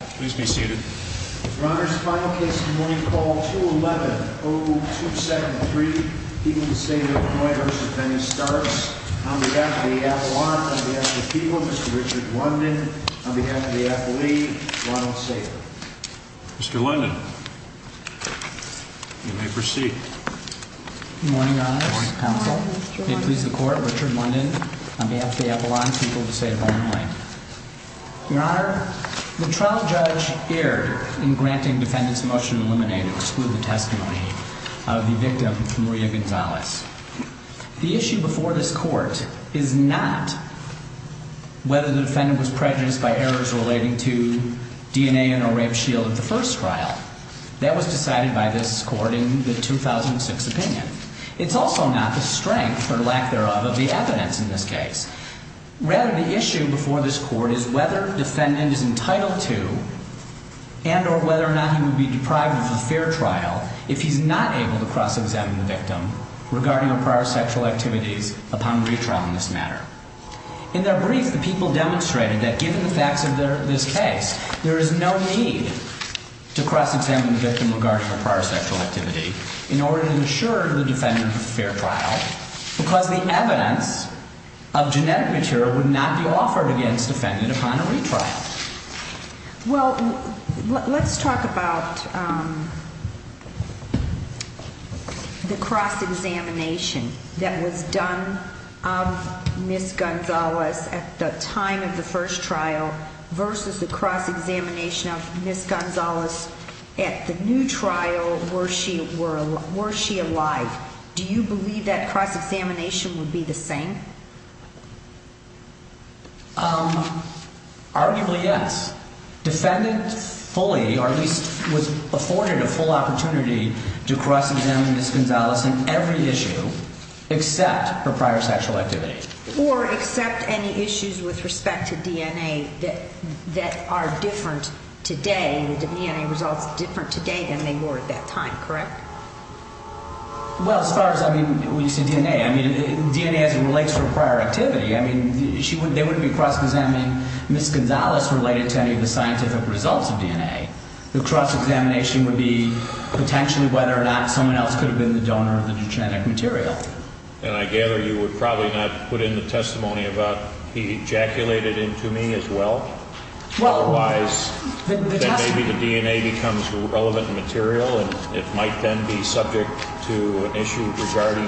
Please be seated. Your Honor, this is the final case of the morning. Call 211-0273. People of the State of Illinois v. Dennis Starks. On behalf of the Avalon, on behalf of the people, Mr. Richard London. On behalf of the athlete, Ronald Sager. Mr. London, you may proceed. Good morning, Your Honor. Good morning, Counsel. May it please the Court, Richard London, on behalf of the Avalon people of the State of Illinois. Your Honor, the trial judge erred in granting defendants motion to eliminate or exclude the testimony of the victim, Maria Gonzalez. The issue before this Court is not whether the defendant was prejudiced by errors relating to DNA and or rape shield of the first trial. That was decided by this Court in the 2006 opinion. It's also not the strength, or lack thereof, of the evidence in this case. Rather, the issue before this Court is whether defendant is entitled to, and or whether or not he would be deprived of a fair trial, if he's not able to cross-examine the victim regarding a prior sexual activity upon retrial in this matter. In their brief, the people demonstrated that given the facts of this case, there is no need to cross-examine the victim regarding a prior sexual activity in order to assure the defendant of a fair trial. Because the evidence of genetic material would not be offered against a defendant upon a retrial. Well, let's talk about the cross-examination that was done of Ms. Gonzalez at the time of the first trial, versus the cross-examination of Ms. Gonzalez at the new trial, were she alive? Do you believe that cross-examination would be the same? Arguably, yes. Defendant fully, or at least was afforded a full opportunity to cross-examine Ms. Gonzalez on every issue, except her prior sexual activity. Or except any issues with respect to DNA that are different today, the DNA results different today than they were at that time, correct? Well, as far as, I mean, when you say DNA, I mean, DNA as it relates to her prior activity. I mean, they wouldn't be cross-examining Ms. Gonzalez related to any of the scientific results of DNA. The cross-examination would be potentially whether or not someone else could have been the donor of the genetic material. And I gather you would probably not put in the testimony about he ejaculated into me as well? Otherwise, then maybe the DNA becomes relevant material, and it might then be subject to an issue regarding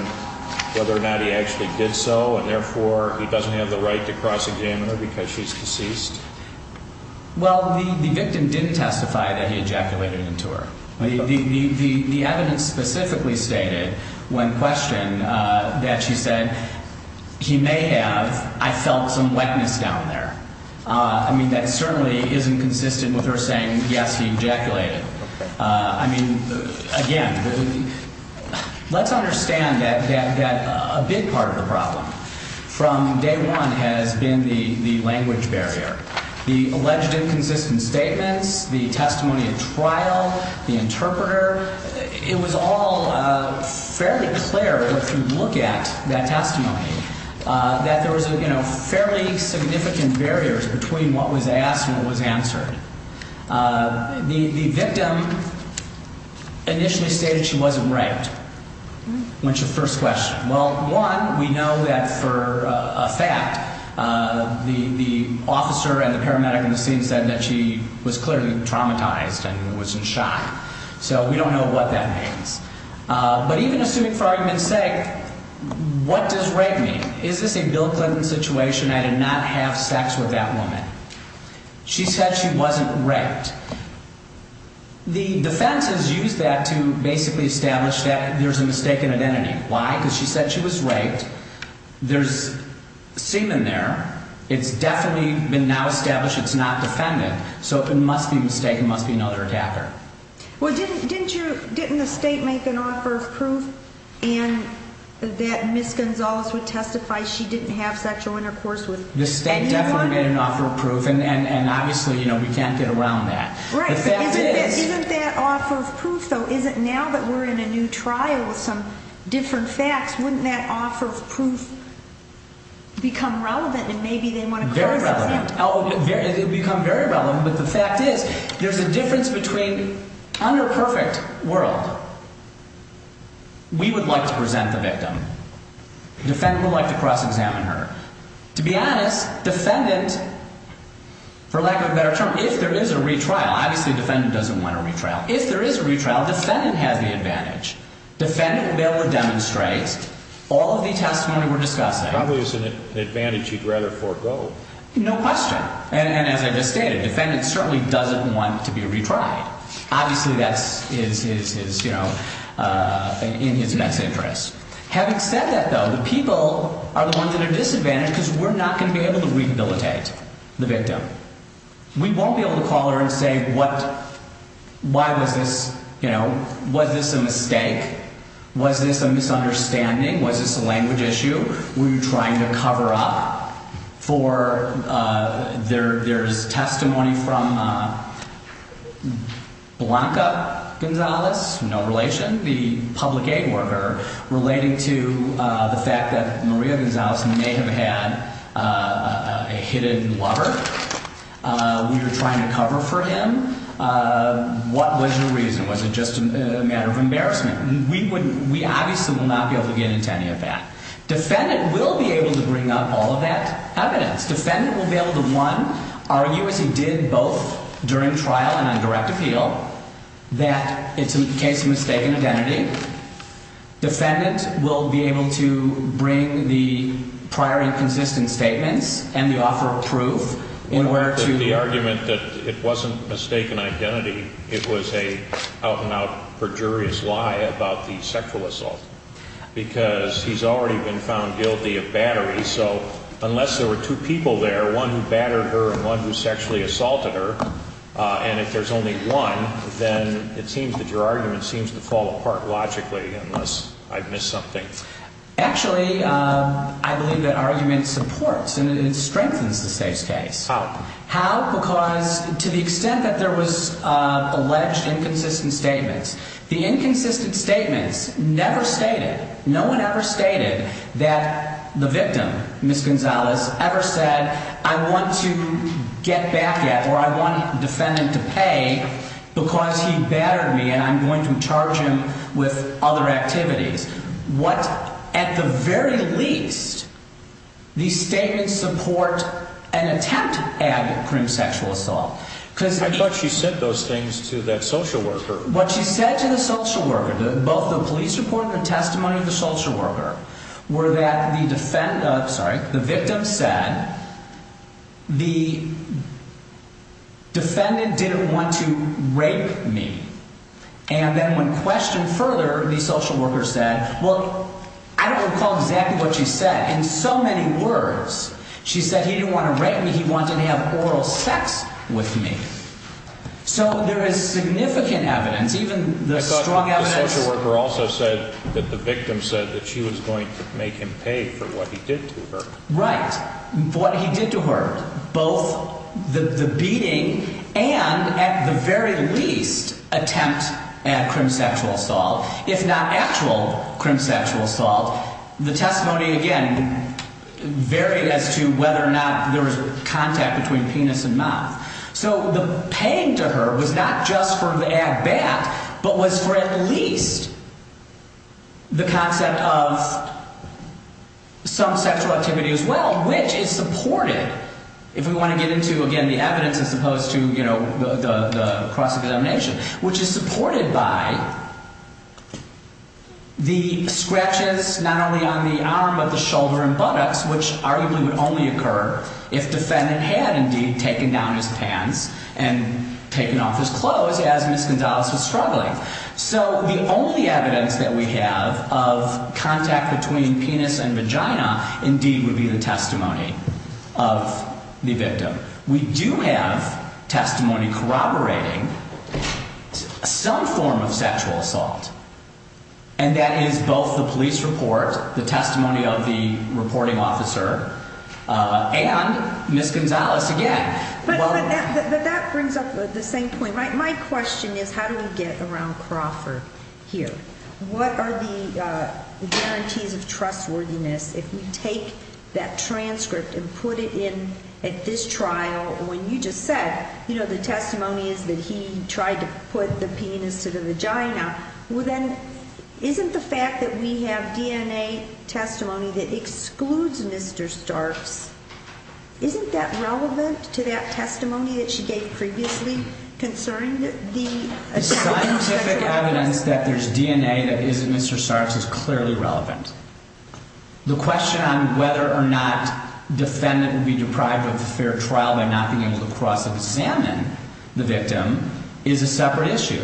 whether or not he actually did so, and therefore he doesn't have the right to cross-examine her because she's deceased? Well, the victim didn't testify that he ejaculated into her. The evidence specifically stated when questioned that she said, he may have, I felt some wetness down there. I mean, that certainly isn't consistent with her saying, yes, he ejaculated. I mean, again, let's understand that a big part of the problem from day one has been the language barrier. The alleged inconsistent statements, the testimony at trial, the interpreter, it was all fairly clear if you look at that testimony that there was, you know, fairly significant barriers between what was asked and what was answered. The victim initially stated she wasn't right when she first questioned. Well, one, we know that for a fact. The officer and the paramedic in the scene said that she was clearly traumatized and was in shock. So we don't know what that means. But even assuming for argument's sake, what does rape mean? Is this a Bill Clinton situation? I did not have sex with that woman. She said she wasn't raped. The defense has used that to basically establish that there's a mistaken identity. Why? Because she said she was raped. There's semen there. It's definitely been now established it's not defendant. So it must be a mistake. It must be another attacker. Well, didn't the state make an offer of proof that Ms. Gonzalez would testify she didn't have sexual intercourse with anyone? The state definitely made an offer of proof. And obviously, you know, we can't get around that. Right. Isn't that offer of proof, though? Isn't now that we're in a new trial with some different facts, wouldn't that offer of proof become relevant and maybe they want to cross-examine her? Very relevant. It would become very relevant. But the fact is there's a difference between under a perfect world. We would like to present the victim. Defendant would like to cross-examine her. To be honest, defendant, for lack of a better term, if there is a retrial, obviously defendant doesn't want a retrial. If there is a retrial, defendant has the advantage. Defendant will be able to demonstrate all of the testimony we're discussing. Probably it's an advantage you'd rather forego. No question. And as I just stated, defendant certainly doesn't want to be retried. Obviously, that's his, you know, in his best interest. Having said that, though, the people are the ones at a disadvantage because we're not going to be able to rehabilitate the victim. We won't be able to call her and say what, why was this, you know, was this a mistake? Was this a misunderstanding? Was this a language issue? Were you trying to cover up for there's testimony from Blanca Gonzalez, no relation, the public aid worker, relating to the fact that Maria Gonzalez may have had a hidden lover? Were you trying to cover for him? What was your reason? Was it just a matter of embarrassment? We obviously will not be able to get into any of that. Defendant will be able to bring up all of that evidence. Defendant will be able to, one, argue as he did both during trial and on direct appeal that it's a case of mistaken identity. Defendant will be able to bring the prior inconsistent statements and the offer of proof in where to... The argument that it wasn't mistaken identity, it was an out-and-out perjurious lie about the sexual assault. Because he's already been found guilty of battery, so unless there were two people there, one who battered her and one who sexually assaulted her, and if there's only one, then it seems that your argument seems to fall apart logically unless I've missed something. Actually, I believe that argument supports and it strengthens the safe's case. How? How? Because to the extent that there was alleged inconsistent statements, the inconsistent statements never stated, no one ever stated that the victim, Ms. Gonzalez, ever said, I want to get back at or I want defendant to pay because he battered me and I'm going to charge him with other activities. What, at the very least, these statements support an attempt at a crime of sexual assault. I thought she said those things to that social worker. What she said to the social worker, both the police report and the testimony of the social worker, were that the victim said, the defendant didn't want to rape me. And then when questioned further, the social worker said, well, I don't recall exactly what she said. In so many words, she said he didn't want to rape me, he wanted to have oral sex with me. So there is significant evidence, even the strong evidence. I thought the social worker also said that the victim said that she was going to make him pay for what he did to her. Right. For what he did to her. Both the beating and, at the very least, attempt at crime of sexual assault, if not actual crime of sexual assault. The testimony, again, varied as to whether or not there was contact between penis and mouth. So the paying to her was not just for the ad bat, but was for at least the concept of some sexual activity as well, which is supported, if we want to get into, again, the evidence as opposed to the cross-examination, which is supported by the scratches, not only on the arm, but the shoulder and buttocks, which arguably would only occur if defendant had indeed taken down his pants and taken off his clothes as Ms. Gonzalez was struggling. So the only evidence that we have of contact between penis and vagina indeed would be the testimony of the victim. We do have testimony corroborating some form of sexual assault. And that is both the police report, the testimony of the reporting officer and Ms. Gonzalez again. But that brings up the same point. My question is, how do we get around Crawford here? What are the guarantees of trustworthiness if we take that transcript and put it in at this trial? You know, when you just said, you know, the testimony is that he tried to put the penis to the vagina. Well, then, isn't the fact that we have DNA testimony that excludes Mr. Starks, isn't that relevant to that testimony that she gave previously concerning the attempt at sexual abuse? The scientific evidence that there's DNA that isn't Mr. Stark's is clearly relevant. The question on whether or not defendant would be deprived of a fair trial by not being able to cross-examine the victim is a separate issue.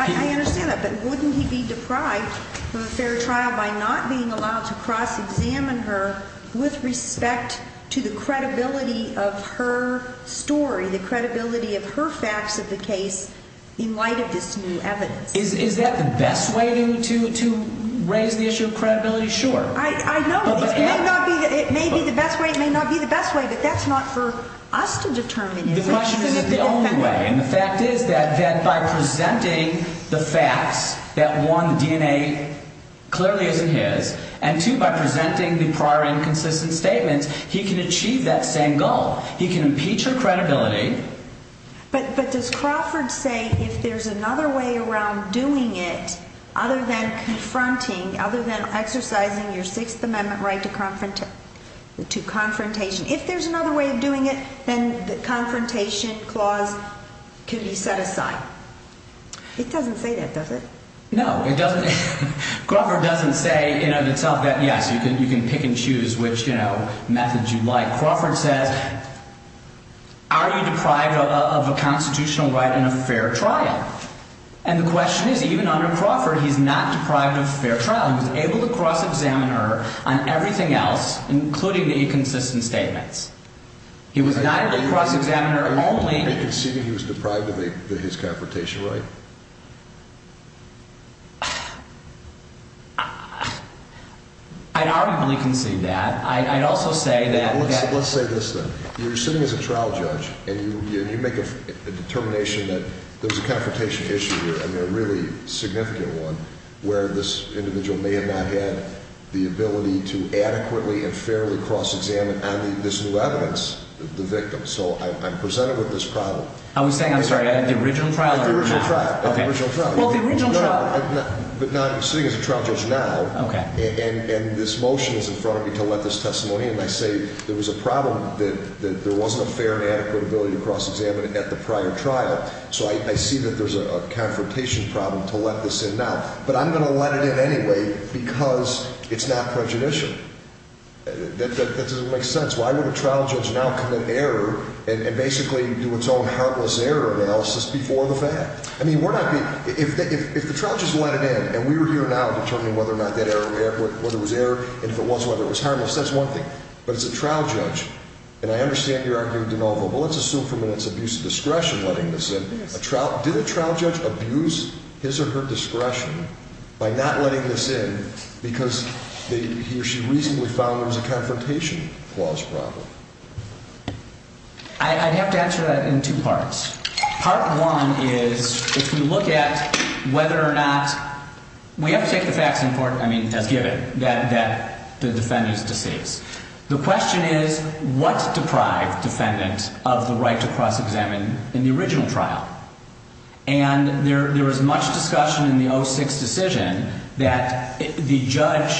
I understand that, but wouldn't he be deprived of a fair trial by not being allowed to cross-examine her with respect to the credibility of her story, the credibility of her facts of the case in light of this new evidence? Is that the best way to raise the issue of credibility? Sure. I know. It may be the best way. It may not be the best way, but that's not for us to determine. The question is the only way, and the fact is that by presenting the facts that, one, DNA clearly isn't his, and, two, by presenting the prior inconsistent statements, he can achieve that same goal. He can impeach her credibility. But does Crawford say if there's another way around doing it other than confronting, other than exercising your Sixth Amendment right to confrontation, if there's another way of doing it, then the confrontation clause can be set aside? It doesn't say that, does it? No, it doesn't. Crawford doesn't say in and of itself that, yes, you can pick and choose which methods you'd like. Crawford says, are you deprived of a constitutional right and a fair trial? And the question is, even under Crawford, he's not deprived of a fair trial. He was able to cross-examine her on everything else, including the inconsistent statements. He was not able to cross-examine her only— Are you conceding he was deprived of his confrontation right? I'd arguably concede that. I'd also say that— Let's say this, then. You're sitting as a trial judge, and you make a determination that there's a confrontation issue here, and a really significant one, where this individual may have not had the ability to adequately and fairly cross-examine on this new evidence the victim. So I'm presented with this problem. I was saying, I'm sorry, the original trial— Well, the original trial— But now I'm sitting as a trial judge now, and this motion is in front of me to let this testimony, and I say there was a problem that there wasn't a fair and adequate ability to cross-examine at the prior trial. So I see that there's a confrontation problem to let this in now. But I'm going to let it in anyway because it's not prejudicial. That doesn't make sense. Why would a trial judge now commit error and basically do its own harmless error analysis before the fact? I mean, we're not being— If the trial just let it in, and we were here now determining whether or not that error— whether it was error, and if it was, whether it was harmless, that's one thing. But it's a trial judge, and I understand you're arguing de novo. But let's assume for a minute it's abuse of discretion letting this in. Did a trial judge abuse his or her discretion by not letting this in because he or she reasonably found there was a confrontation clause problem? I'd have to answer that in two parts. Part one is if you look at whether or not—we have to take the facts in court, I mean, as given, that the defendant is deceased. The question is what deprived defendant of the right to cross-examine in the original trial? And there was much discussion in the 06 decision that the trial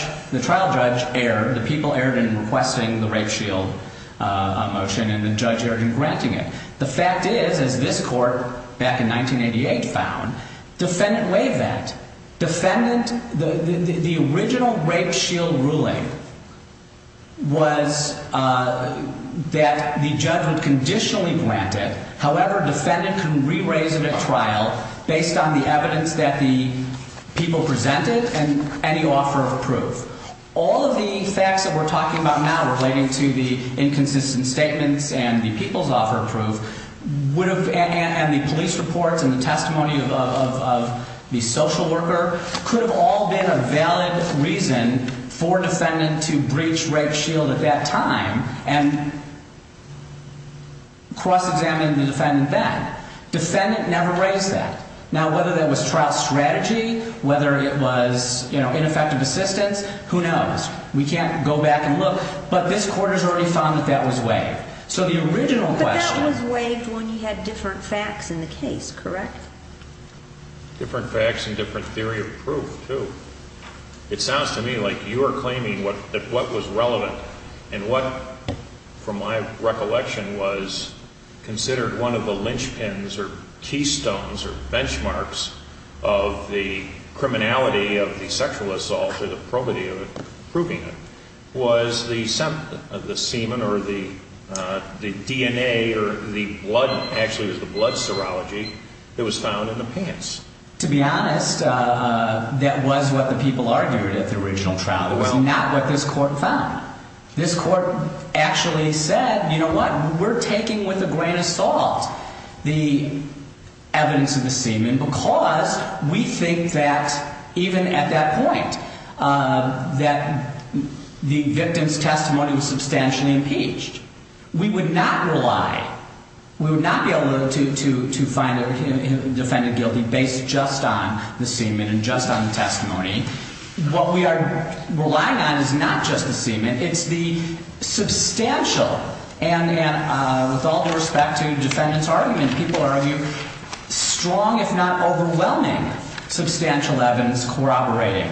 judge erred. The people erred in requesting the rape shield motion, and the judge erred in granting it. The fact is, as this court back in 1988 found, defendant waived that. Defendant—the original rape shield ruling was that the judge would conditionally grant it. However, defendant can re-raise it at trial based on the evidence that the people presented and any offer of proof. All of the facts that we're talking about now relating to the inconsistent statements and the people's offer of proof would have—and the police reports and the testimony of the social worker—could have all been a valid reason for defendant to breach rape shield at that time and cross-examine the defendant then. Defendant never raised that. Now, whether that was trial strategy, whether it was ineffective assistance, who knows? We can't go back and look, but this court has already found that that was waived. So the original question— But that was waived when you had different facts in the case, correct? Different facts and different theory of proof, too. It sounds to me like you are claiming that what was relevant and what, from my recollection, was considered one of the linchpins or keystones or benchmarks of the criminality of the sexual assault or the probity of it, proving it, was the semen or the DNA or the blood—actually, it was the blood serology that was found in the pants. To be honest, that was what the people argued at the original trial. It was not what this court found. This court actually said, you know what, we're taking with a grain of salt the evidence of the semen because we think that, even at that point, that the victim's testimony was substantially impeached. We would not rely—we would not be able to find a defendant guilty based just on the semen and just on the testimony. What we are relying on is not just the semen. It's the substantial, and with all due respect to the defendant's argument, people argue, strong, if not overwhelming, substantial evidence corroborating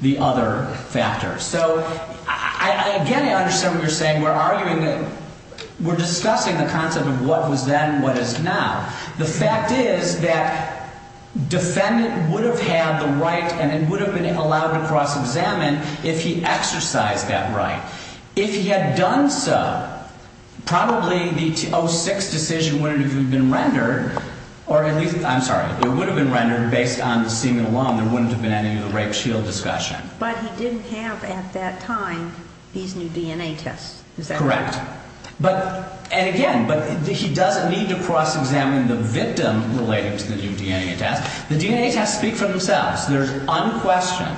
the other factors. So, again, I understand what you're saying. We're arguing that—we're discussing the concept of what was then, what is now. The fact is that defendant would have had the right and would have been allowed to cross-examine if he exercised that right. If he had done so, probably the 2006 decision wouldn't have even been rendered, or at least—I'm sorry, it would have been rendered based on the semen alone. There wouldn't have been any of the rape shield discussion. But he didn't have, at that time, these new DNA tests. Is that correct? Correct. And, again, he doesn't need to cross-examine the victim related to the new DNA test. The DNA tests speak for themselves. They're unquestioned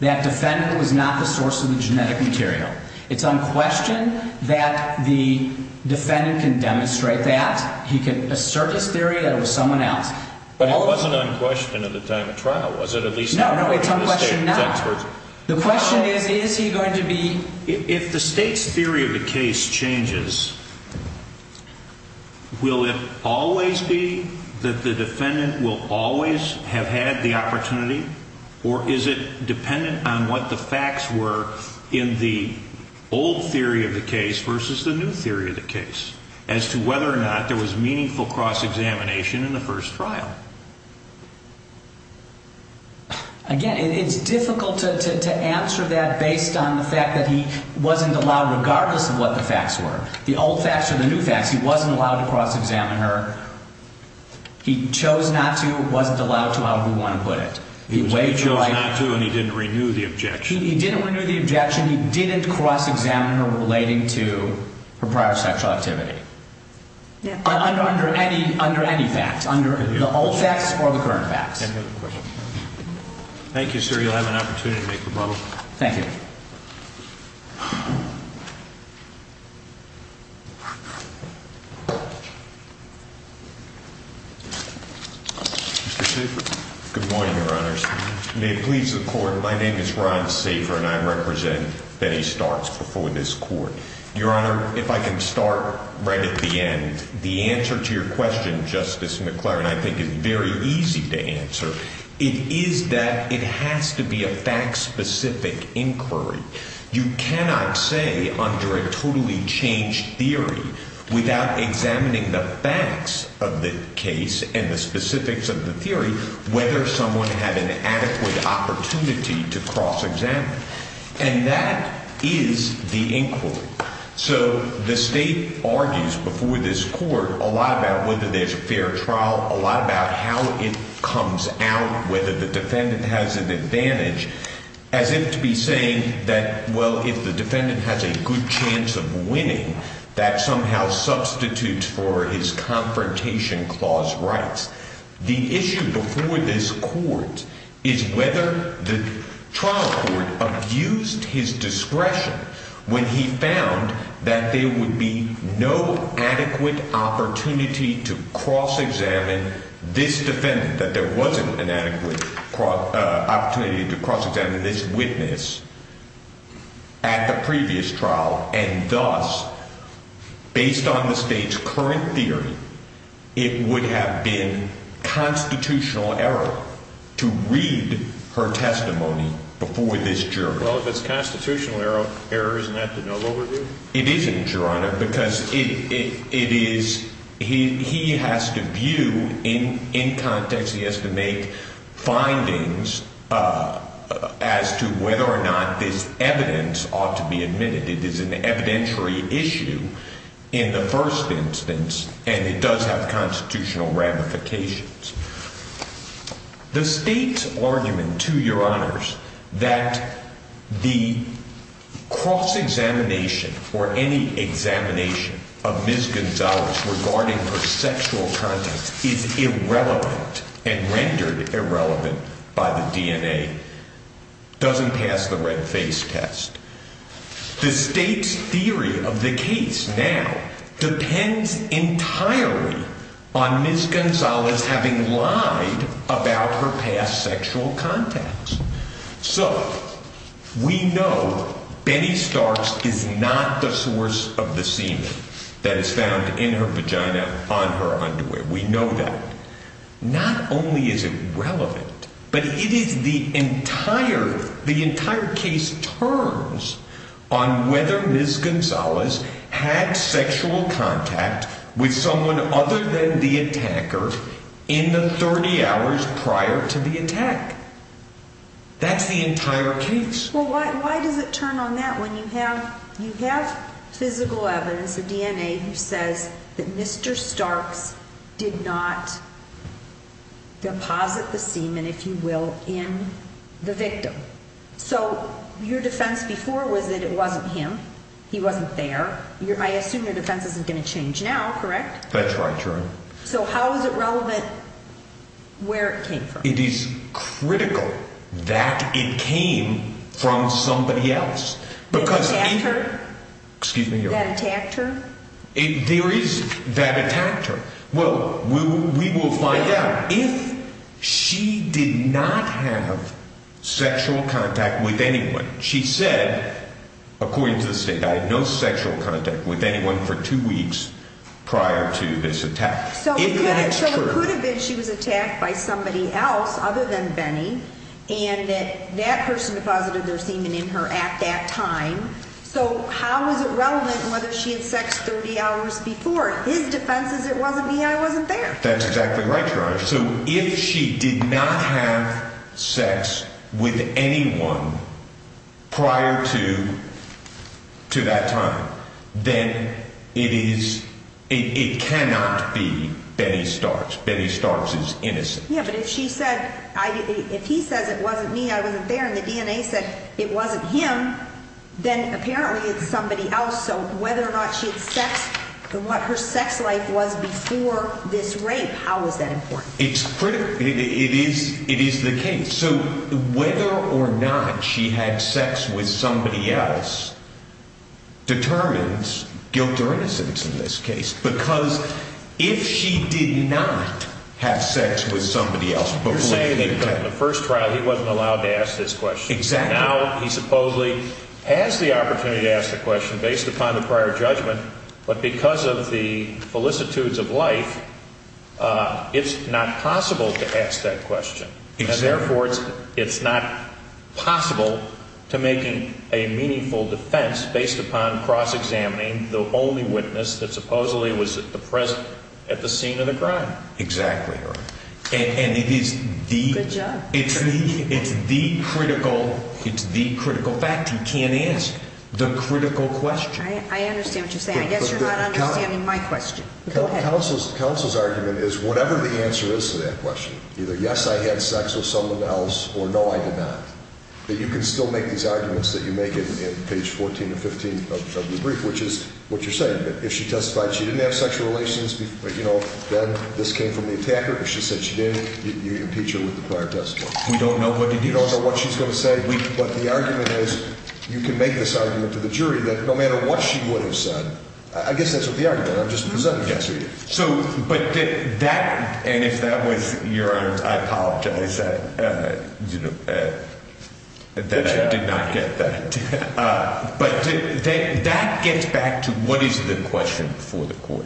that defendant was not the source of the genetic material. It's unquestioned that the defendant can demonstrate that. He can assert his theory that it was someone else. But it wasn't unquestioned at the time of trial, was it? No, no, it's unquestioned now. The question is, is he going to be— If the State's theory of the case changes, will it always be that the defendant will always have had the opportunity, or is it dependent on what the facts were in the old theory of the case versus the new theory of the case as to whether or not there was meaningful cross-examination in the first trial? Again, it's difficult to answer that based on the fact that he wasn't allowed, regardless of what the facts were. The old facts or the new facts, he wasn't allowed to cross-examine her. He chose not to, wasn't allowed to, however you want to put it. He chose not to, and he didn't renew the objection. He didn't renew the objection. He didn't cross-examine her relating to her prior sexual activity, under any facts, under the old facts or the current facts. Thank you, sir. You'll have an opportunity to make your motto. Thank you. Good morning, Your Honors. May it please the Court, my name is Ron Safer, and I represent Betty Starks before this Court. Your Honor, if I can start right at the end. The answer to your question, Justice McClaren, I think is very easy to answer. It is that it has to be a fact-specific inquiry. You cannot say, under a totally changed theory, without examining the facts of the case and the specifics of the theory, whether someone had an adequate opportunity to cross-examine. And that is the inquiry. So the State argues before this Court a lot about whether there's a fair trial, a lot about how it comes out, whether the defendant has an advantage, as if to be saying that, well, if the defendant has a good chance of winning, that somehow substitutes for his confrontation clause rights. The issue before this Court is whether the trial court abused his discretion when he found that there would be no adequate opportunity to cross-examine this defendant, that there wasn't an adequate opportunity to cross-examine this witness at the previous trial. And thus, based on the State's current theory, it would have been constitutional error to read her testimony before this jury. Well, if it's constitutional error, isn't that the no-go route? It isn't, Your Honor, because he has to view in context, he has to make findings as to whether or not this evidence ought to be admitted. It is an evidentiary issue in the first instance, and it does have constitutional ramifications. The State's argument, to Your Honors, that the cross-examination or any examination of Ms. Gonzalez regarding her sexual conduct is irrelevant and rendered irrelevant by the DNA doesn't pass the red-face test. The State's theory of the case now depends entirely on Ms. Gonzalez having lied about her past sexual contacts. So we know Benny Starks is not the source of the semen that is found in her vagina on her underwear. We know that. Not only is it relevant, but the entire case turns on whether Ms. Gonzalez had sexual contact with someone other than the attacker in the 30 hours prior to the attack. That's the entire case. Well, why does it turn on that when you have physical evidence, the DNA, that says that Mr. Starks did not deposit the semen, if you will, in the victim? So your defense before was that it wasn't him, he wasn't there. I assume your defense isn't going to change now, correct? That's right, Your Honor. So how is it relevant where it came from? It is critical that it came from somebody else. The attacker? Excuse me, Your Honor. The attacker? There is that attacker. Well, we will find out if she did not have sexual contact with anyone. She said, according to the State, I had no sexual contact with anyone for two weeks prior to this attack. So it could have been she was attacked by somebody else other than Benny, and that person deposited their semen in her at that time. So how is it relevant whether she had sex 30 hours before? His defense is it wasn't me, I wasn't there. That's exactly right, Your Honor. So if she did not have sex with anyone prior to that time, then it cannot be Benny Starks. Benny Starks is innocent. Yeah, but if she said, if he says it wasn't me, I wasn't there, and the DNA said it wasn't him, then apparently it's somebody else. So whether or not she had sex and what her sex life was before this rape, how is that important? It's critical. It is the case. So whether or not she had sex with somebody else determines guilt or innocence in this case, because if she did not have sex with somebody else before the attack. You're saying that in the first trial he wasn't allowed to ask this question. Exactly. Now he supposedly has the opportunity to ask the question based upon the prior judgment, but because of the felicitudes of life, it's not possible to ask that question. Therefore, it's not possible to make a meaningful defense based upon cross-examining the only witness that supposedly was present at the scene of the crime. Exactly, Your Honor. And it's the critical fact he can't ask the critical question. I understand what you're saying. I guess you're not understanding my question. Counsel's argument is whatever the answer is to that question. Either yes, I had sex with someone else or no, I did not. But you can still make these arguments that you make in page 14 or 15 of the brief, which is what you're saying. If she testified she didn't have sexual relations, you know, then this came from the attacker. If she said she didn't, you impeach her with the prior testimony. We don't know what to do. You don't know what she's going to say, but the argument is you can make this argument to the jury that no matter what she would have said. I guess that's what the argument is. I'm just presenting it to you. And if that was your honor, I apologize that I did not get that. But that gets back to what is the question before the court?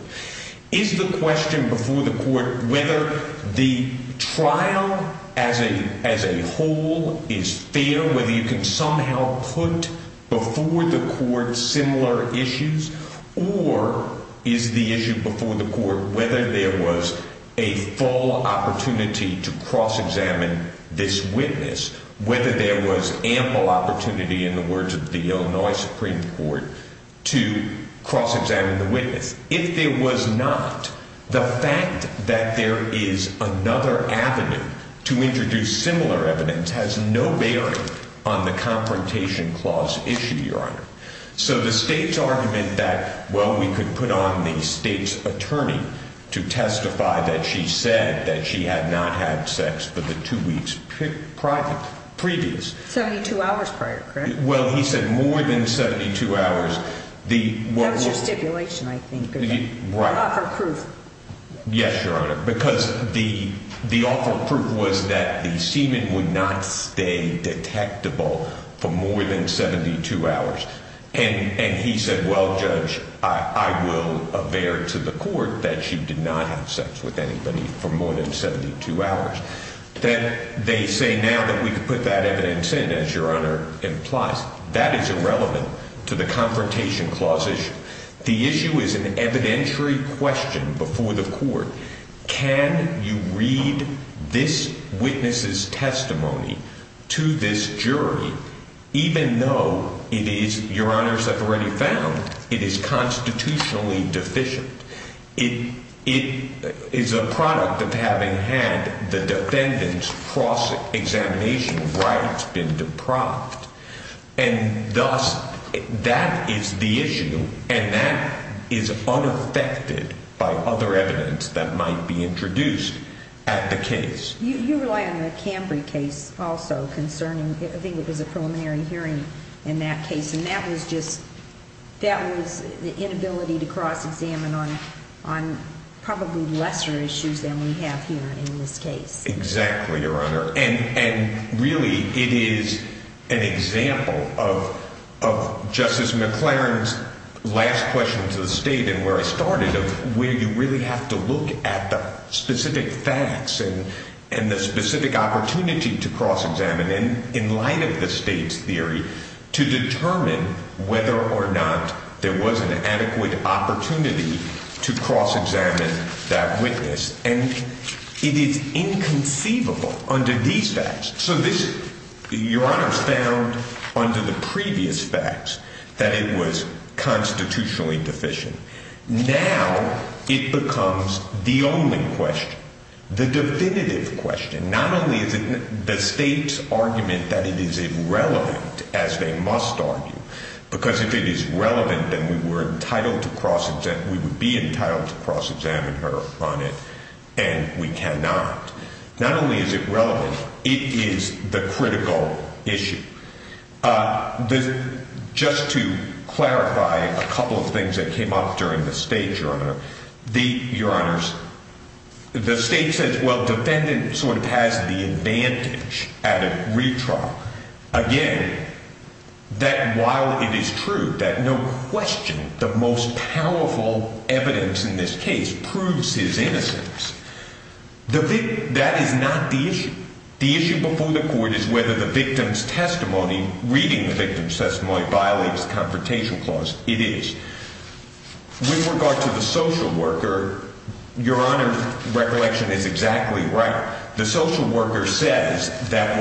Is the question before the court whether the trial as a whole is fair, whether you can somehow put before the court similar issues, or is the issue before the court whether there was a full opportunity to cross-examine this witness, whether there was ample opportunity in the words of the Illinois Supreme Court to cross-examine the witness. If there was not, the fact that there is another avenue to introduce similar evidence has no bearing on the confrontation clause issue, your honor. So the state's argument that, well, we could put on the state's attorney to testify that she said that she had not had sex for the two weeks prior, previous. 72 hours prior, correct? Well, he said more than 72 hours. That was your stipulation, I think. Right. Your offer of proof. Yes, your honor, because the offer of proof was that the semen would not stay detectable for more than 72 hours. And he said, well, judge, I will aver to the court that she did not have sex with anybody for more than 72 hours. Then they say now that we could put that evidence in, as your honor implies, that is irrelevant to the confrontation clause issue. The issue is an evidentiary question before the court. Can you read this witness's testimony to this jury, even though it is, your honors have already found, it is constitutionally deficient? It is a product of having had the defendant's cross-examination rights been deprived. And thus, that is the issue, and that is unaffected by other evidence that might be introduced at the case. You rely on the Cambry case also concerning, I think it was a preliminary hearing in that case, and that was just, that was the inability to cross-examine on probably lesser issues than we have here in this case. Exactly, your honor. And really, it is an example of Justice McLaren's last question to the state and where I started, of where you really have to look at the specific facts and the specific opportunity to cross-examine, and in light of the state's theory, to determine whether or not there was an adequate opportunity to cross-examine that witness. And it is inconceivable under these facts. So this, your honors, found under the previous facts that it was constitutionally deficient. Now, it becomes the only question, the definitive question. Not only is it the state's argument that it is irrelevant, as they must argue, because if it is relevant, then we were entitled to cross-examine, we would be entitled to cross-examine her on it, and we cannot. Not only is it relevant, it is the critical issue. Just to clarify a couple of things that came up during the state, your honor. The, your honors, the state says, well, defendant sort of has the advantage at a retrial. Again, that while it is true that no question the most powerful evidence in this case proves his innocence, that is not the issue. The issue before the court is whether the victim's testimony, reading the victim's testimony, violates the Confrontation Clause. It is. With regard to the social worker, your honor's recollection is exactly right. The social worker says that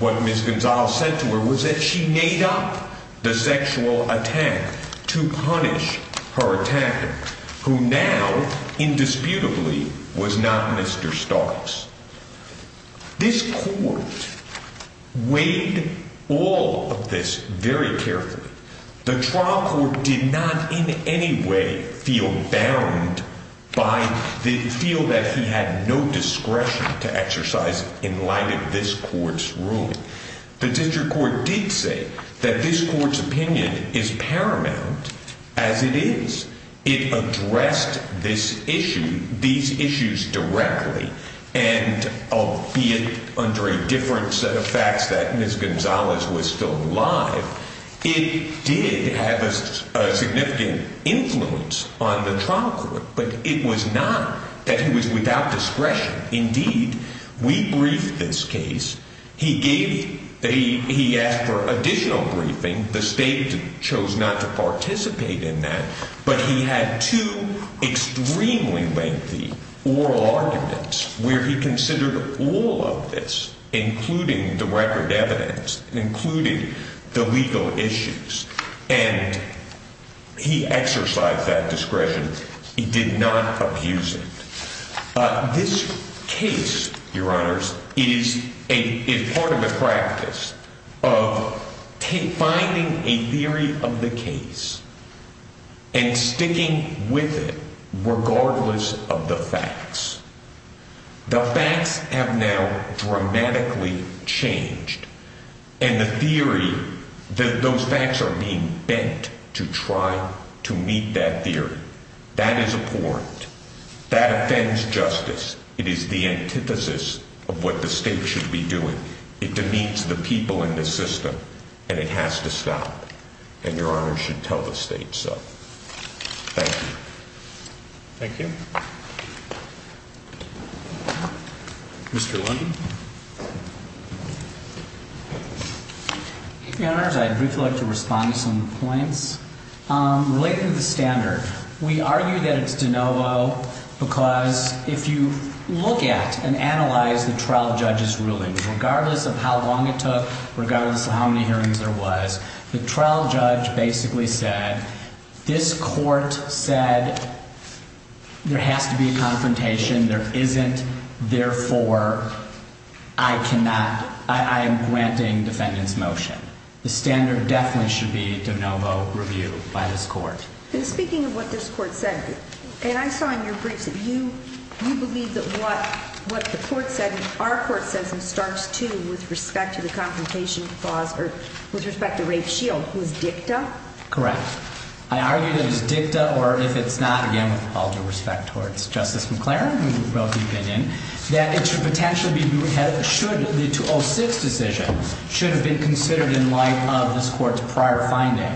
what Ms. Gonzales said to her was that she made up the sexual attack to punish her attacker, who now, indisputably, was not Mr. Starks. This court weighed all of this very carefully. The trial court did not in any way feel bound by, feel that he had no discretion to exercise in light of this court's ruling. The district court did say that this court's opinion is paramount as it is. It addressed this issue, these issues directly, and albeit under a different set of facts that Ms. Gonzales was still alive. It did have a significant influence on the trial court, but it was not that he was without discretion. Indeed, we briefed this case. He asked for additional briefing. The state chose not to participate in that, but he had two extremely lengthy oral arguments where he considered all of this, including the record evidence, including the legal issues. And he exercised that discretion. He did not abuse it. This case, Your Honors, is part of a practice of finding a theory of the case and sticking with it, regardless of the facts. The facts have now dramatically changed, and the theory, those facts are being bent to try to meet that theory. That is abhorrent. That offends justice. It is the antithesis of what the state should be doing. It demeans the people in the system, and it has to stop. And Your Honors should tell the state so. Thank you. Thank you. Mr. London? Your Honors, I'd briefly like to respond to some points. Related to the standard, we argue that it's de novo because if you look at and analyze the trial judge's ruling, regardless of how long it took, regardless of how many hearings there was, the trial judge basically said, this court said there has to be a confrontation. There isn't. Therefore, I cannot. I am granting defendant's motion. The standard definitely should be de novo review by this court. And speaking of what this court said, and I saw in your briefs that you believe that what the court said and our court says and starts to with respect to the confrontation clause or with respect to Ray Shield, was dicta? Correct. I argue that it is dicta, or if it's not, again, with all due respect towards Justice McLaren, who wrote the opinion, that it should potentially be reviewed should the 2006 decision should have been considered in light of this court's prior finding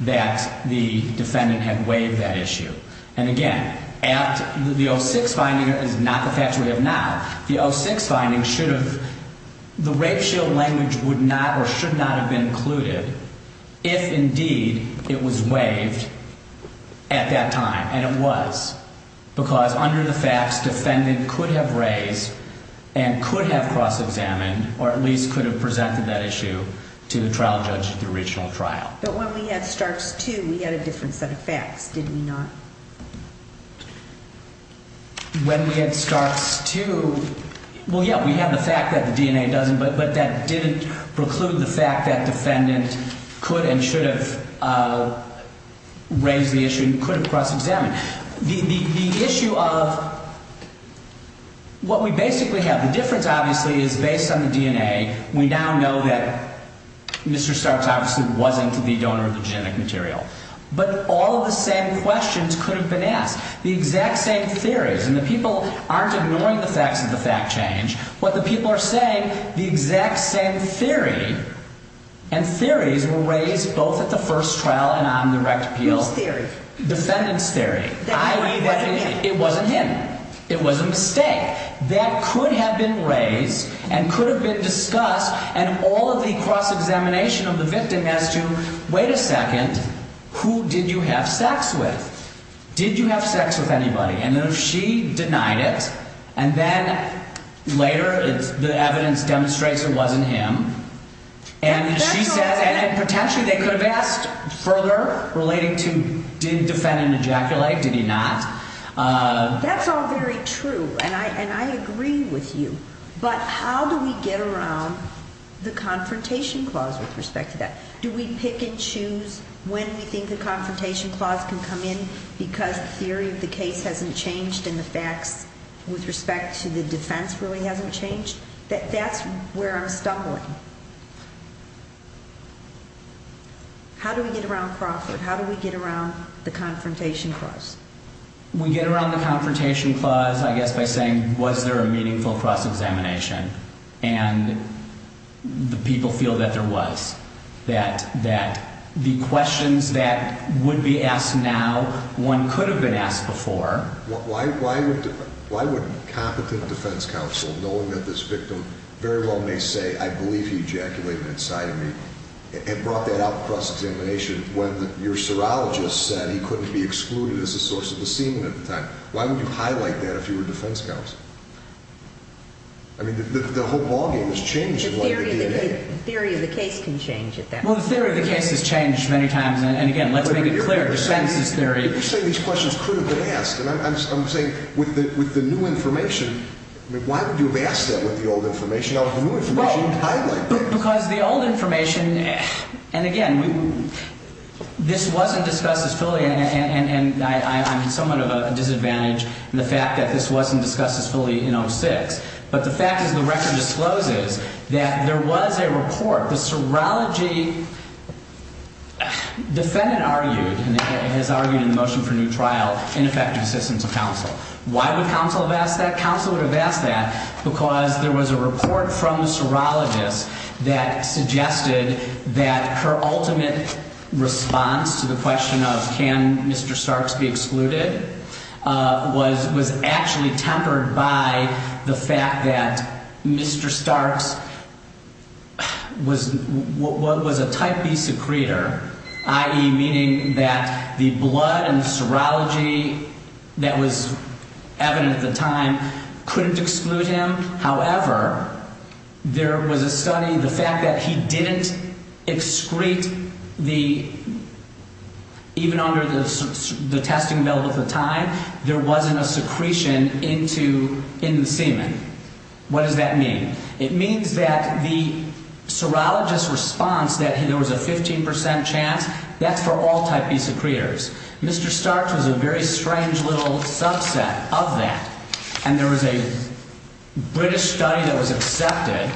that the defendant had waived that issue. And again, the 2006 finding is not the facts we have now. The 2006 finding should have, the Ray Shield language would not or should not have been included if indeed it was waived at that time. And it was. Because under the facts, defendant could have raised and could have cross-examined or at least could have presented that issue to the trial judge at the original trial. But when we had starts to, we had a different set of facts, did we not? When we had starts to, well, yeah, we have the fact that the DNA doesn't, but that didn't preclude the fact that defendant could and should have raised the issue and could have cross-examined. The issue of what we basically have, the difference obviously is based on the DNA. We now know that Mr. Starks obviously wasn't the donor of the genetic material. But all of the same questions could have been asked. The exact same theories, and the people aren't ignoring the facts of the fact change. What the people are saying, the exact same theory and theories were raised both at the first trial and on the rect appeal. Whose theory? Defendant's theory. It wasn't him. It was a mistake. That could have been raised and could have been discussed and all of the cross-examination of the victim as to, wait a second, who did you have sex with? Did you have sex with anybody? And if she denied it, and then later the evidence demonstrates it wasn't him, and she says, and potentially they could have asked further relating to did defendant ejaculate, did he not? That's all very true, and I agree with you. But how do we get around the confrontation clause with respect to that? Do we pick and choose when we think the confrontation clause can come in because the theory of the case hasn't changed and the facts with respect to the defense really hasn't changed? That's where I'm stumbling. How do we get around Crawford? How do we get around the confrontation clause? We get around the confrontation clause, I guess, by saying, was there a meaningful cross-examination? And the people feel that there was, that the questions that would be asked now one could have been asked before. Why would a competent defense counsel, knowing that this victim very well may say, I believe he ejaculated inside of me, and brought that out across examination when your serologist said he couldn't be excluded as a source of the scene at the time? Why would you highlight that if you were a defense counsel? I mean, the whole ballgame has changed along the DNA. The theory of the case can change at that point. Well, the theory of the case has changed many times, and again, let's make it clear, defense's theory. You're saying these questions could have been asked, and I'm saying with the new information, I mean, why would you have asked that with the old information? Now, with the new information, you highlight that. Because the old information, and again, this wasn't discussed as fully, and I'm somewhat of a disadvantage in the fact that this wasn't discussed as fully in 06, but the fact is the record discloses that there was a report. The serology defendant argued, and has argued in the motion for new trial, ineffective assistance of counsel. Why would counsel have asked that? Because there was a report from the serologist that suggested that her ultimate response to the question of can Mr. Starks be excluded was actually tempered by the fact that Mr. However, there was a study, the fact that he didn't excrete the, even under the testing bill at the time, there wasn't a secretion into, in the semen. What does that mean? It means that the serologist's response that there was a 15% chance, that's for all type B secretors. Mr. Starks was a very strange little subset of that. And there was a British study that was accepted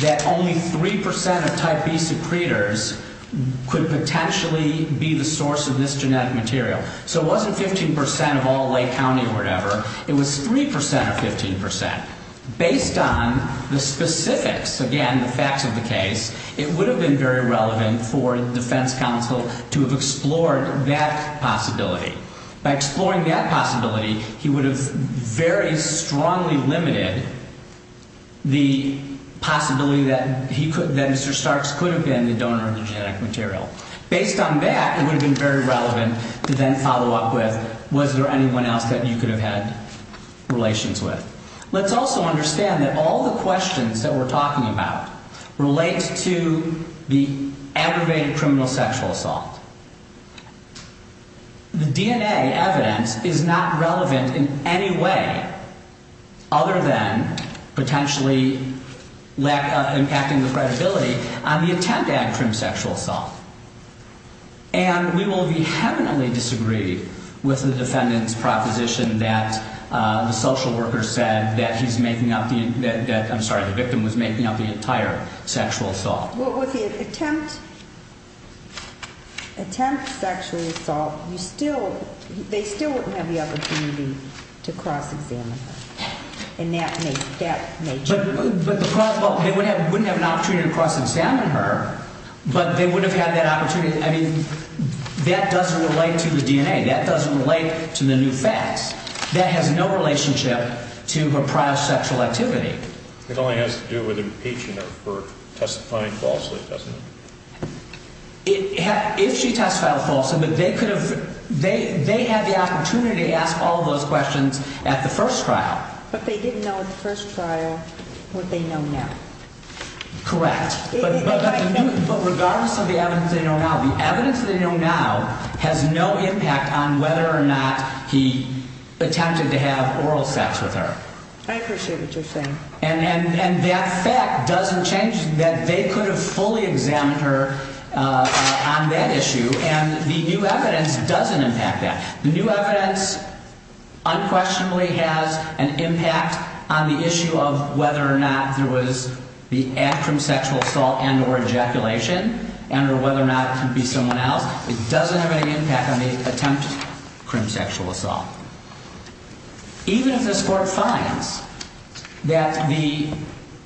that only 3% of type B secretors could potentially be the source of this genetic material. So it wasn't 15% of all Lake County or whatever. It was 3% of 15%. Based on the specifics, again, the facts of the case, it would have been very relevant for defense counsel to have explored that possibility. By exploring that possibility, he would have very strongly limited the possibility that he could, that Mr. Starks could have been the donor of the genetic material. Based on that, it would have been very relevant to then follow up with, was there anyone else that you could have had relations with? Let's also understand that all the questions that we're talking about relate to the aggravated criminal sexual assault. The DNA evidence is not relevant in any way other than potentially impacting the credibility on the attempt at a crim sexual assault. And we will vehemently disagree with the defendant's proposition that the social worker said that he's making up the, that, I'm sorry, the victim was making up the entire sexual assault. Well, with the attempt, attempt sexual assault, you still, they still wouldn't have the opportunity to cross-examine her. And that may, that may change. But the problem, they wouldn't have an opportunity to cross-examine her, but they would have had that opportunity. I mean, that doesn't relate to the DNA. That doesn't relate to the new facts. That has no relationship to her prior sexual activity. It only has to do with impeaching her for testifying falsely, doesn't it? If she testified falsely, but they could have, they had the opportunity to ask all those questions at the first trial. But they didn't know at the first trial what they know now. Correct. But regardless of the evidence they know now, the evidence they know now has no impact on whether or not he attempted to have oral sex with her. I appreciate what you're saying. And that fact doesn't change that they could have fully examined her on that issue, and the new evidence doesn't impact that. The new evidence unquestionably has an impact on the issue of whether or not there was the act of sexual assault and or ejaculation, and or whether or not it could be someone else. It doesn't have any impact on the attempt of sexual assault. Even if this Court finds that the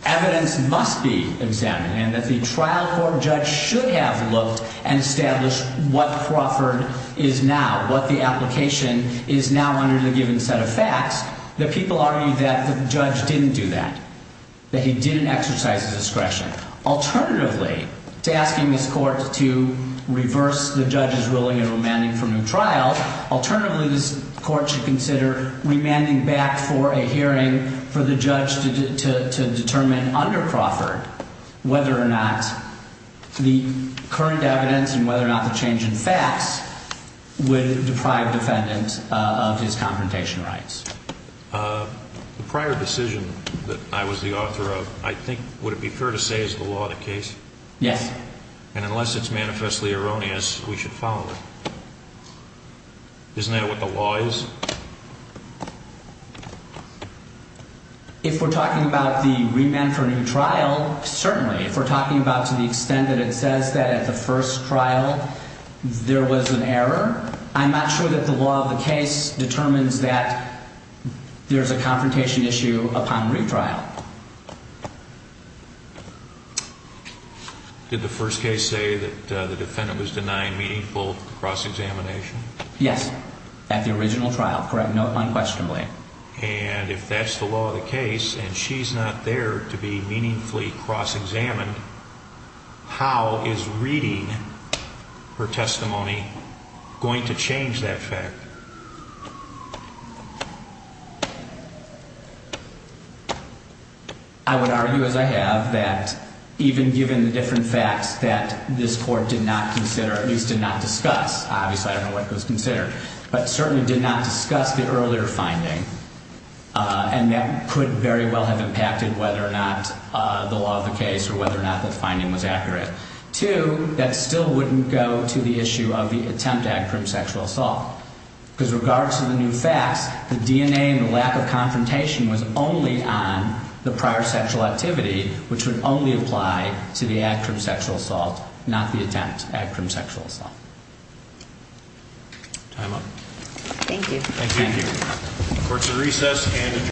evidence must be examined and that the trial court judge should have looked and established what Crawford is now, what the application is now under the given set of facts, that people argue that the judge didn't do that, that he didn't exercise his discretion. Alternatively, to asking this Court to reverse the judge's willing and remanding from the trial, alternatively this Court should consider remanding back for a hearing for the judge to determine under Crawford whether or not the current evidence and whether or not the change in facts would deprive the defendant of his confrontation rights. The prior decision that I was the author of, I think, would it be fair to say is the law of the case? Yes. And unless it's manifestly erroneous, we should follow it. Isn't that what the law is? If we're talking about the remand for a new trial, certainly. If we're talking about to the extent that it says that at the first trial there was an error, I'm not sure that the law of the case determines that there's a confrontation issue upon retrial. Did the first case say that the defendant was denied meaningful cross-examination? Yes. At the original trial. Correct. Unquestionably. And if that's the law of the case and she's not there to be meaningfully cross-examined, how is reading her testimony going to change that fact? I would argue, as I have, that even given the different facts that this court did not consider, at least did not discuss, obviously I don't know what was considered, but certainly did not discuss the earlier finding, and that could very well have impacted whether or not the law of the case or whether or not the finding was accurate. Two, that still wouldn't go to the issue of the attempt at crime sexual assault. Because regards to the new facts, the DNA and the lack of confrontation was only on the prior sexual activity, which would only apply to the act of sexual assault, not the attempt at crime sexual assault. Time up. Thank you. Thank you. Court is in recess and adjourned.